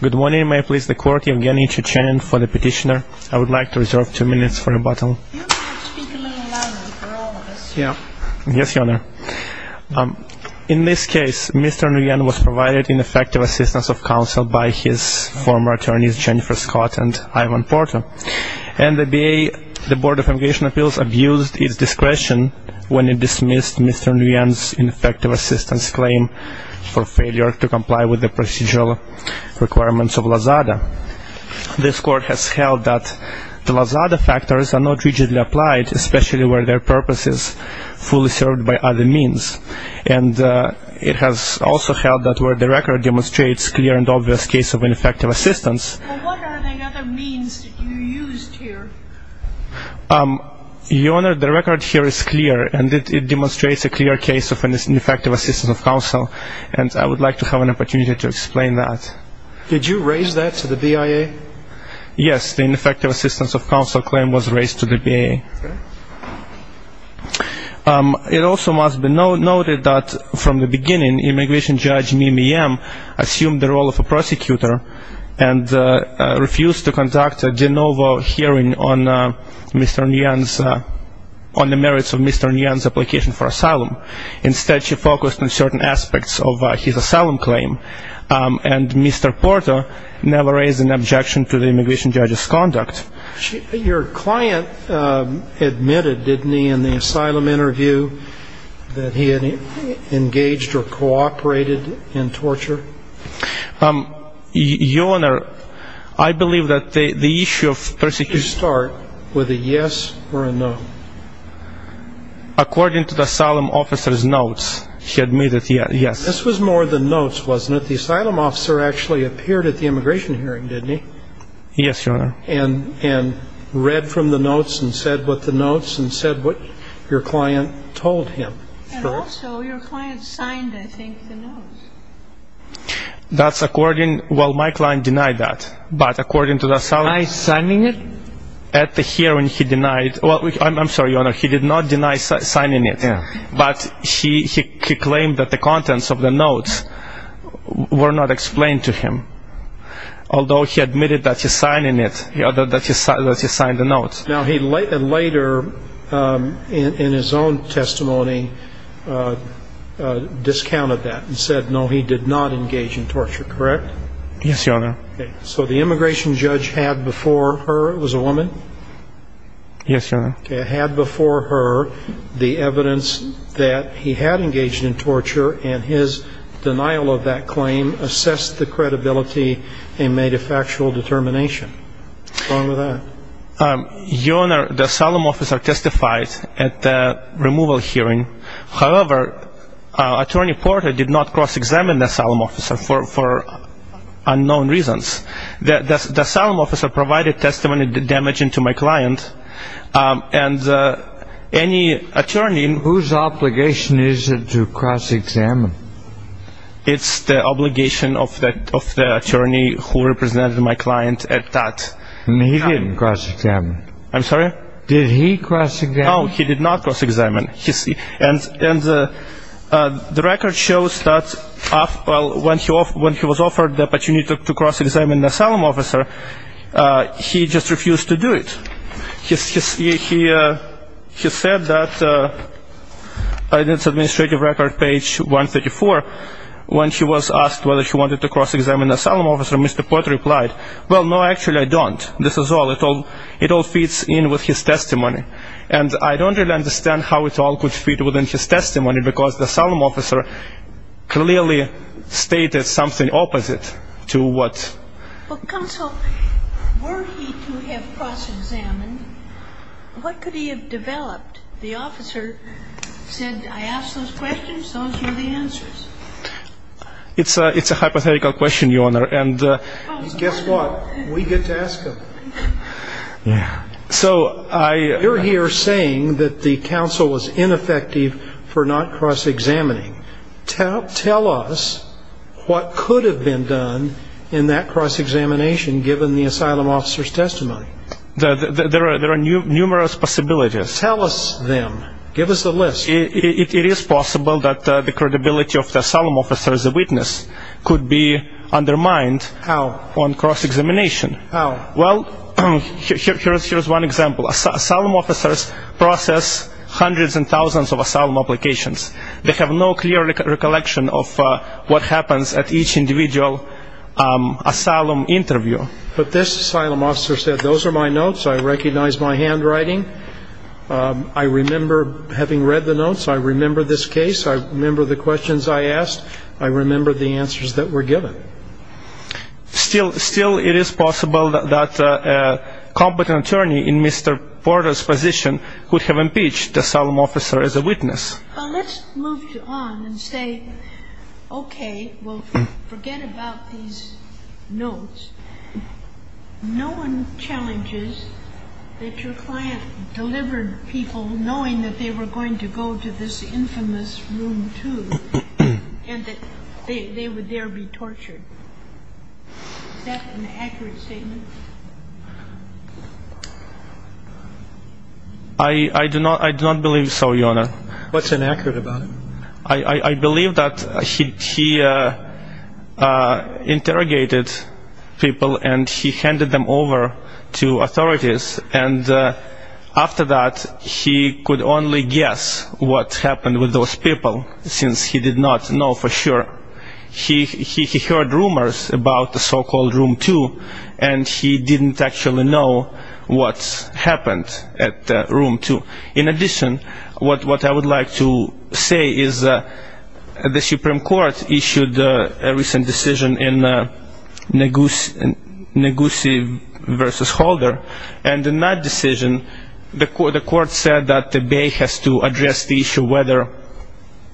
Good morning, may I please the Court, Evgeny Chechenin for the petitioner. I would like to reserve two minutes for rebuttal. You may speak a little louder for all of us here. Yes, Your Honor. In this case, Mr. Nguyen was provided ineffective assistance of counsel by his former attorneys Jennifer Scott and Ivan Porto, and the B.A., the Board of Avigation Appeals abused its discretion when it dismissed Mr. Nguyen's ineffective assistance claim for failure to comply with the procedural requirements of LAZADA. This Court has held that the LAZADA factors are not rigidly applied, especially where their purpose is fully served by other means. And it has also held that where the record demonstrates clear and obvious case of ineffective assistance... Well, what are the other means that you used here? Your Honor, the record here is clear, and it demonstrates a clear case of ineffective assistance of counsel, and I would like to have an opportunity to explain that. Did you raise that to the B.I.A.? Yes, the ineffective assistance of counsel claim was raised to the B.A. It also must be noted that from the beginning, immigration judge Mimi M. assumed the role of a prosecutor and refused to conduct a de novo hearing on Mr. Nguyen's... on the merits of Mr. Nguyen's application for asylum. Instead, she focused on certain aspects of his asylum claim, and Mr. Porto never raised an objection to the immigration judge's conduct. Your client admitted, didn't he, in the asylum interview that he had engaged or cooperated in torture? Your Honor, I believe that the issue of persecution... According to the asylum officer's notes, he admitted, yes. This was more the notes, wasn't it? The asylum officer actually appeared at the immigration hearing, didn't he? Yes, Your Honor. And read from the notes and said what the notes and said what your client told him. And also, your client signed, I think, the notes. That's according... Well, my client denied that, but according to the asylum... By signing it? At the hearing, he denied... Well, I'm sorry, Your Honor, he did not deny signing it, but he claimed that the contents of the notes were not explained to him, although he admitted that he signed it, that he signed the notes. Now, he later, in his own testimony, discounted that and said, no, he did not engage in torture, correct? Yes, Your Honor. So the immigration judge had before her... It was a woman? Yes, Your Honor. Had before her the evidence that he had engaged in torture, and his denial of that claim assessed the credibility and made a factual determination. What's wrong with that? Your Honor, the asylum officer testified at the removal hearing. However, Attorney Porter did not cross-examine the asylum officer for unknown reasons. The asylum officer provided testimony damaging to my client, and any attorney... Whose obligation is it to cross-examine? It's the obligation of the attorney who represented my client at that time. And he didn't cross-examine? I'm sorry? Did he cross-examine? No, he did not cross-examine. And the record shows that when he was offered the opportunity to cross-examine the asylum officer, he just refused to do it. He said that in his administrative record, page 134, when he was asked whether he wanted to cross-examine the asylum officer, Mr. Porter replied, well, no, actually I don't. This is all. It all fits in with his testimony. And I don't really understand how it all could fit within his testimony, because the asylum officer clearly stated something opposite to what... Well, counsel, were he to have cross-examined, what could he have developed? The officer said, I asked those questions, those were the answers. It's a hypothetical question, Your Honor, and... Guess what? We get to ask them. Yeah. So I... You're here saying that the counsel was ineffective for not cross-examining. Tell us what could have been done in that cross-examination, given the asylum officer's testimony. There are numerous possibilities. Tell us them. Give us a list. It is possible that the credibility of the asylum officer as a witness could be undermined... How? On cross-examination. How? Well, here's one example. Asylum officers process hundreds and thousands of asylum applications. They have no clear recollection of what happens at each individual asylum interview. But this asylum officer said, those are my notes, I recognize my handwriting, I remember having read the notes, I remember this case, I remember the questions I asked, I remember the answers that were given. Still, it is possible that a competent attorney in Mr. Porter's position could have impeached the asylum officer as a witness. Well, let's move on and say, okay, well, forget about these notes. No one challenges that your client delivered people knowing that they were going to go to this infamous room, too, and that they would there be tortured. Is that an accurate statement? I do not believe so, Your Honor. What's inaccurate about it? I believe that he interrogated people and he handed them over to authorities, and after that, he could only guess what happened with those people, since he did not know for sure. He heard rumors about the so-called Room 2, and he didn't actually know what happened at Room 2. In addition, what I would like to say is the Supreme Court issued a recent decision in which the court said that the Bay has to address the issue whether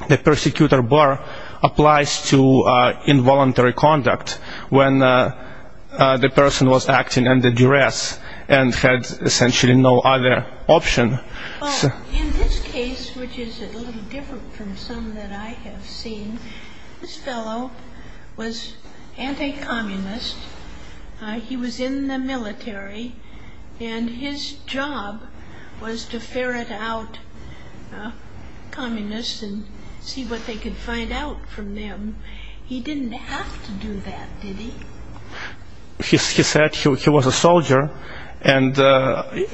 the persecutor bar applies to involuntary conduct, when the person was acting under duress and had essentially no other option. In this case, which is a little different from some that I have seen, this fellow was anti-communist. He was in the military, and his job was to ferret out communists and see what they could find out from them. He didn't have to do that, did he? He said he was a soldier, and I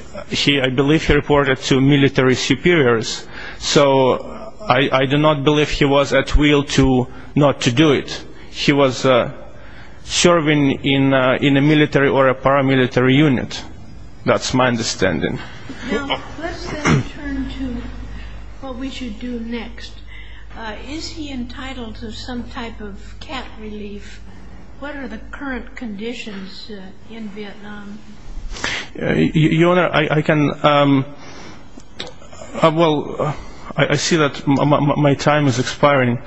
believe he reported to military superiors, so I do not believe he was at will not to do it. He was serving in a military or a paramilitary unit. That's my understanding. Now, let's then turn to what we should do next. Is he entitled to some type of cap relief? What are the current conditions in Vietnam? Your Honor, I see that my time is expiring.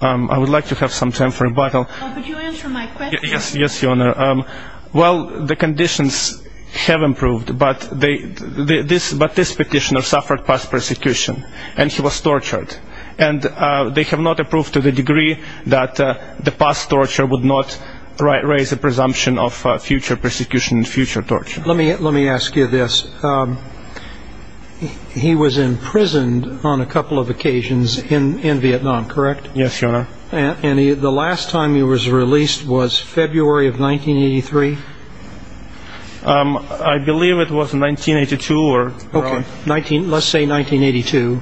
I would like to have some time for rebuttal. Could you answer my question? Yes, Your Honor. Well, the conditions have improved, but this petitioner suffered past persecution, and he was tortured. They have not approved to the degree that the past torture would not raise the presumption of future persecution and future torture. Let me ask you this. He was imprisoned on a couple of occasions in Vietnam, correct? Yes, Your Honor. And the last time he was released was February of 1983? I believe it was 1982. Okay, let's say 1982.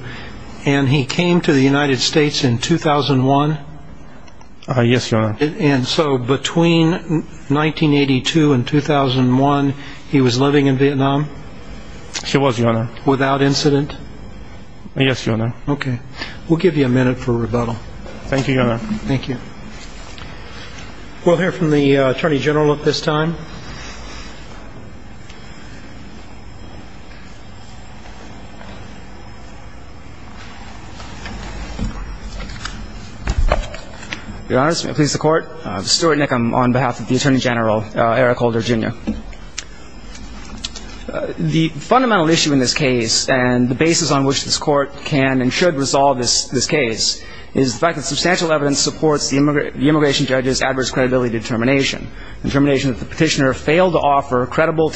And he came to the United States in 2001? Yes, Your Honor. And so between 1982 and 2001, he was living in Vietnam? He was, Your Honor. Without incident? Yes, Your Honor. Okay. We'll give you a minute for rebuttal. Thank you, Your Honor. Thank you. We'll hear from the Attorney General at this time. Your Honors, may it please the Court. Stuart Nickam on behalf of the Attorney General, Eric Holder, Jr. The fundamental issue in this case, and the basis on which this Court can and should resolve this case, is the fact that substantial evidence supports the immigration judge's adverse credibility determination, the determination that the petitioner suffered past persecution and future torture. The petitioner failed to offer credible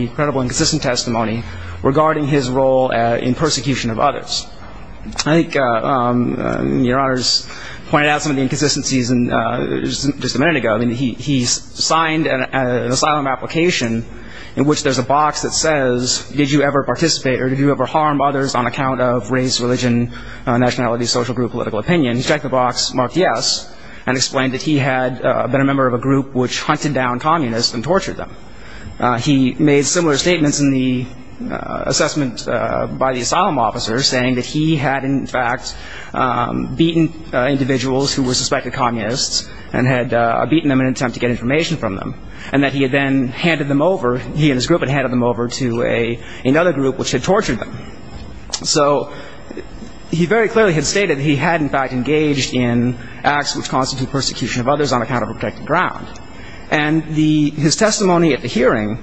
testimony, credible and consistent testimony regarding his role in persecution of others. I think Your Honors pointed out some of the inconsistencies just a minute ago. He signed an asylum application in which there's a box that says, did you ever participate or did you ever harm others on account of race, religion, nationality, social group, political opinion? He checked the box, marked yes, and explained that he had been a member of a group which hunted down communists and tortured them. He made similar statements in the assessment by the asylum officer, saying that he had, in fact, beaten individuals who were suspected communists and had beaten them in an attempt to get information from them, and that he had then handed them over, he and his group had handed them over to another group which had tortured them. So he very clearly had stated that he had, in fact, engaged in acts which constitute persecution of others on account of a protected ground. And his testimony at the hearing,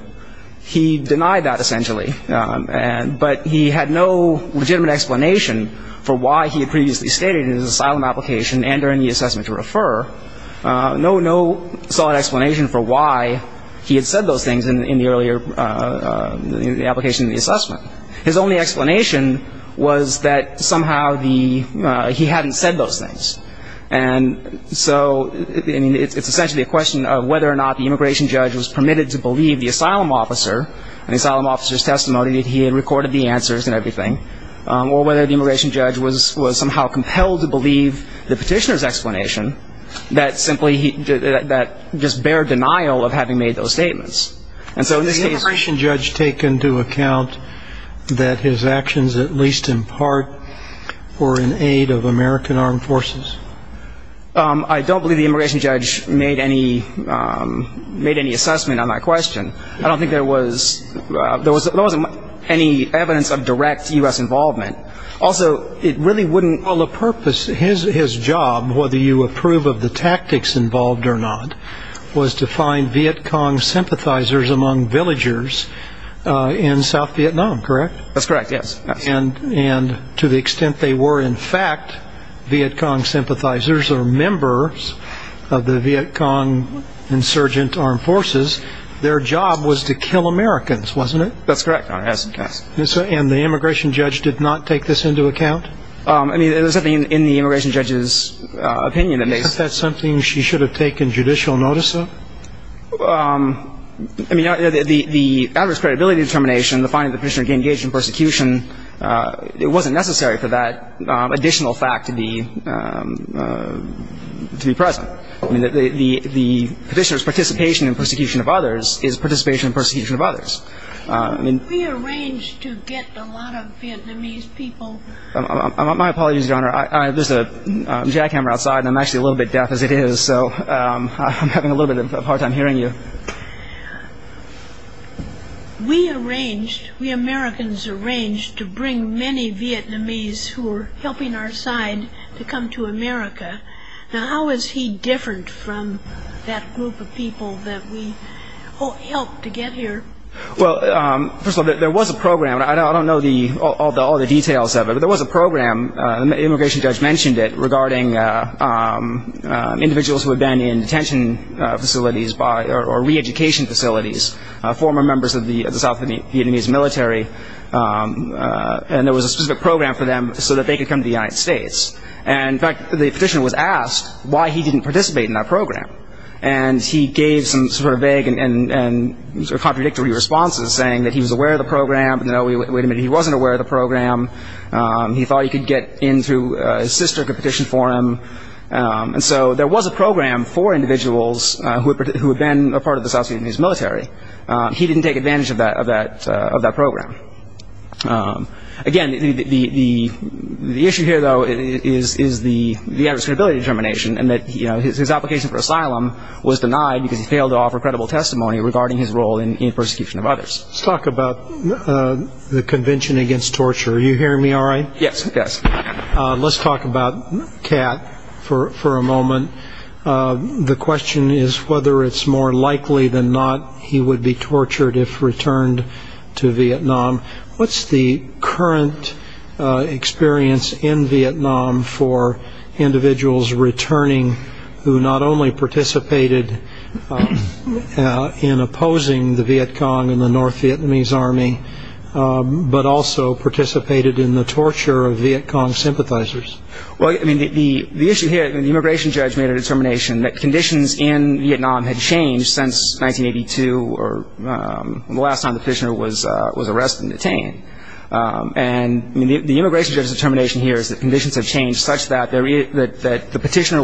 he denied that essentially, but he had no legitimate explanation for why he had previously stated in his asylum application and during the assessment to refer, no solid explanation for why he had said those things in the earlier application in the assessment. His only explanation was that somehow he hadn't said those things. And so, I mean, it's essentially a question of whether or not the immigration judge was permitted to believe the asylum officer and the asylum officer's testimony that he had recorded the answers and everything, or whether the immigration judge was somehow compelled to believe the petitioner's explanation that simply, that just bare denial of having made those statements. And so in this case... Did the immigration judge take into account that his actions, at least in part, were in aid of American armed forces? I don't believe the immigration judge made any assessment on that question. I don't think there was any evidence of direct U.S. involvement. Also, it really wouldn't... Well, the purpose, his job, whether you approve of the tactics involved or not, was to find Viet Cong sympathizers among villagers in South Vietnam, correct? That's correct, yes. And to the extent they were, in fact, Viet Cong sympathizers or members of the Viet Cong insurgent armed forces, their job was to kill Americans, wasn't it? That's correct, Your Honor, yes. And the immigration judge did not take this into account? I mean, there was nothing in the immigration judge's opinion that made... Isn't that something she should have taken judicial notice of? I mean, the adverse credibility determination, the finding that the petitioner engaged in persecution, it wasn't necessary for that additional fact to be present. I mean, the petitioner's participation in persecution of others is participation in persecution of others. We arranged to get a lot of Vietnamese people... My apologies, Your Honor. There's a jackhammer outside, and I'm actually a little bit deaf as it is, so I'm having a little bit of a hard time hearing you. We arranged, we Americans arranged to bring many Vietnamese who were helping our side to come to America. Now, how is he different from that group of people that we helped to get here? Well, first of all, there was a program. I don't know all the details of it, but there was a program. The immigration judge mentioned it regarding individuals who had been in detention facilities or re-education facilities, former members of the South Vietnamese military, and there was a specific program for them so that they could come to the United States. And in fact, the petitioner was asked why he didn't participate in that program. And he gave some sort of vague and contradictory responses, saying that he was aware of the program, but no, wait a minute, he wasn't aware of the program. He thought he could get in through his sister, could petition for him. And so there was a program for individuals who had been a part of the South Vietnamese military. He didn't take advantage of that program. Again, the issue here, though, is the adversarial determination and that his application for asylum was denied because he failed to offer credible testimony regarding his role in the persecution of others. Let's talk about the Convention Against Torture. Are you hearing me all right? Yes, yes. Let's talk about Cat for a moment. The question is whether it's more likely than not he would be tortured if returned to Vietnam. What's the current experience in Vietnam for individuals returning who not only participated in opposing the Viet Cong and the North Vietnamese Army, but also participated in the torture of Viet Cong sympathizers? Well, I mean, the issue here, the immigration judge made a determination that conditions in Vietnam had changed since 1982, or the last time the petitioner was arrested and detained. And the immigration judge's determination here is that conditions have changed such that the petitioner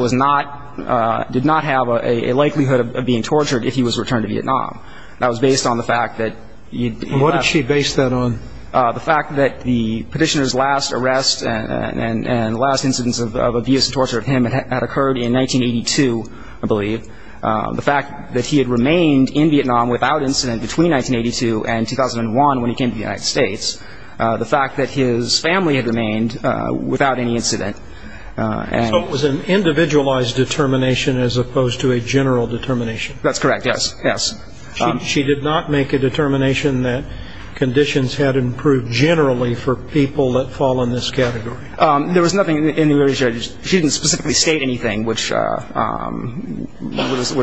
did not have a likelihood of being tortured if he was returned to Vietnam. That was based on the fact that... And what did she base that on? The fact that the petitioner's last arrest and last incidents of abuse and torture of him had occurred in 1982, I believe. The fact that he had remained in Vietnam without incident between 1982 and 2001 when he came to the United States. The fact that his family had remained without any incident. So it was an individualized determination as opposed to a general determination. That's correct, yes, yes. She did not make a determination that conditions had improved generally for people that fall in this category? There was nothing in the immigration judge... She didn't specifically state anything which would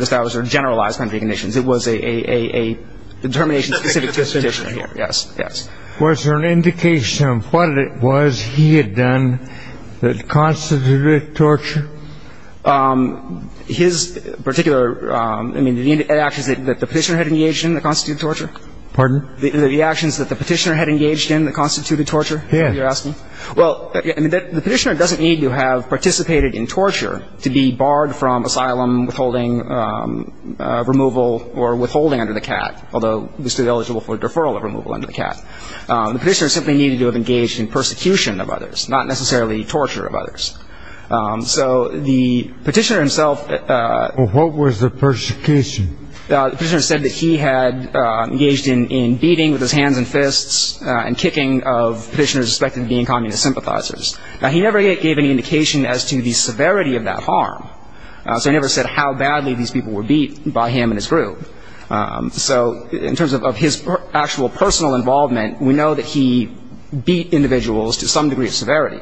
establish or generalize country conditions. It was a determination specific to the petitioner, yes, yes. Was there an indication of what it was he had done that constituted torture? His particular... The actions that the petitioner had engaged in that constituted torture? Pardon? The actions that the petitioner had engaged in that constituted torture? Yes. You're asking? Well, the petitioner doesn't need to have participated in torture to be barred from asylum, withholding removal or withholding under the CAT, although he was still eligible for a deferral of removal under the CAT. The petitioner simply needed to have engaged in persecution of others, not necessarily torture of others. So the petitioner himself... Well, what was the persecution? The petitioner said that he had engaged in beating with his hands and fists and kicking of petitioners suspected of being communist sympathizers. Now, he never gave any indication as to the severity of that harm. So he never said how badly these people were beat by him and his group. So in terms of his actual personal involvement, we know that he beat individuals to some degree of severity.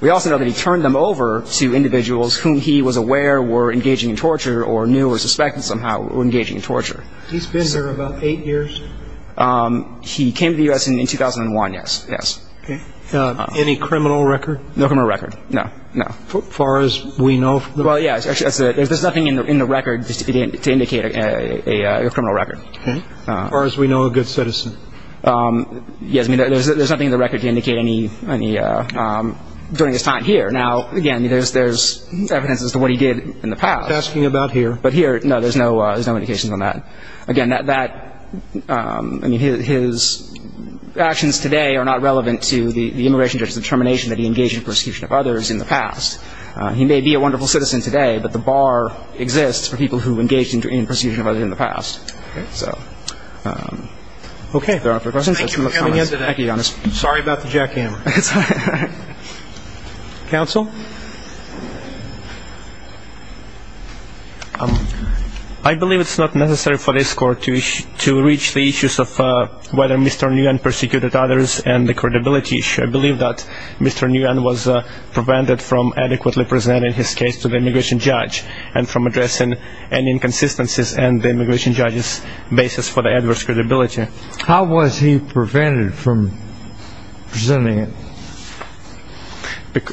We also know that he turned them over to individuals whom he was aware were engaging in torture or knew or suspected somehow were engaging in torture. He's been there about eight years? He came to the U.S. in 2001, yes, yes. Any criminal record? No criminal record, no, no. As far as we know... Well, yes, there's nothing in the record to indicate a criminal record. As far as we know, a good citizen. Yes, there's nothing in the record to indicate any... during his time here. Now, again, there's evidence as to what he did in the past. But here, no, there's no indication on that. Again, that... I mean, his... actions today are not relevant to the immigration judge's determination that he engaged in persecution of others in the past. He may be a wonderful citizen today, but the bar exists for people who engaged in persecution of others in the past. So... Okay, thank you for coming in today. Sorry about the jackhammer. It's all right. Counsel? I believe it's not necessary for this court to reach the issues of whether Mr. Nguyen persecuted others and the credibility issue. I believe that Mr. Nguyen was prevented from adequately presenting his case to the immigration judge and from addressing any inconsistencies in the immigration judge's basis for the adverse credibility. How was he prevented from presenting it?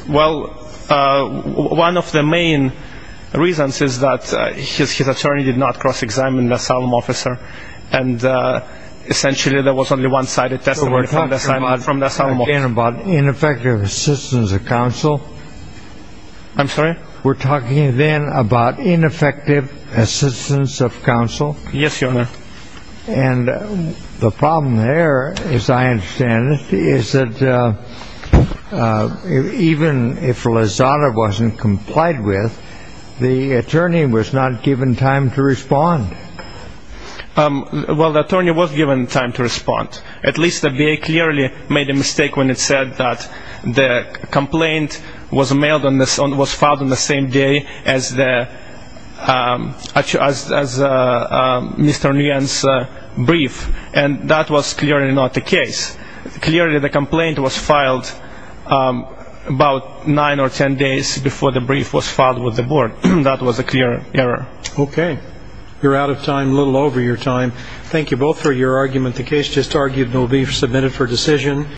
Well, one of the main reasons is that his attorney did not cross-examine the asylum officer and essentially there was only one-sided testimony from the asylum officer. We're talking about ineffective assistance of counsel. I'm sorry? We're talking then about ineffective assistance of counsel. Yes, Your Honor. And the problem there as I understand it, is that even if Lozada wasn't complied with, the attorney was not given time to respond. Well, the attorney was given time to respond. At least the VA clearly made a mistake when it said that the complaint was filed on the same day as the Mr. Nguyen's brief and that was clearly not the case. Clearly the complaint was filed about nine or ten days before the brief was filed with the board. That was a clear error. Okay. You're out of time, a little over your time. Thank you both for your argument. The case just argued will be submitted for decision.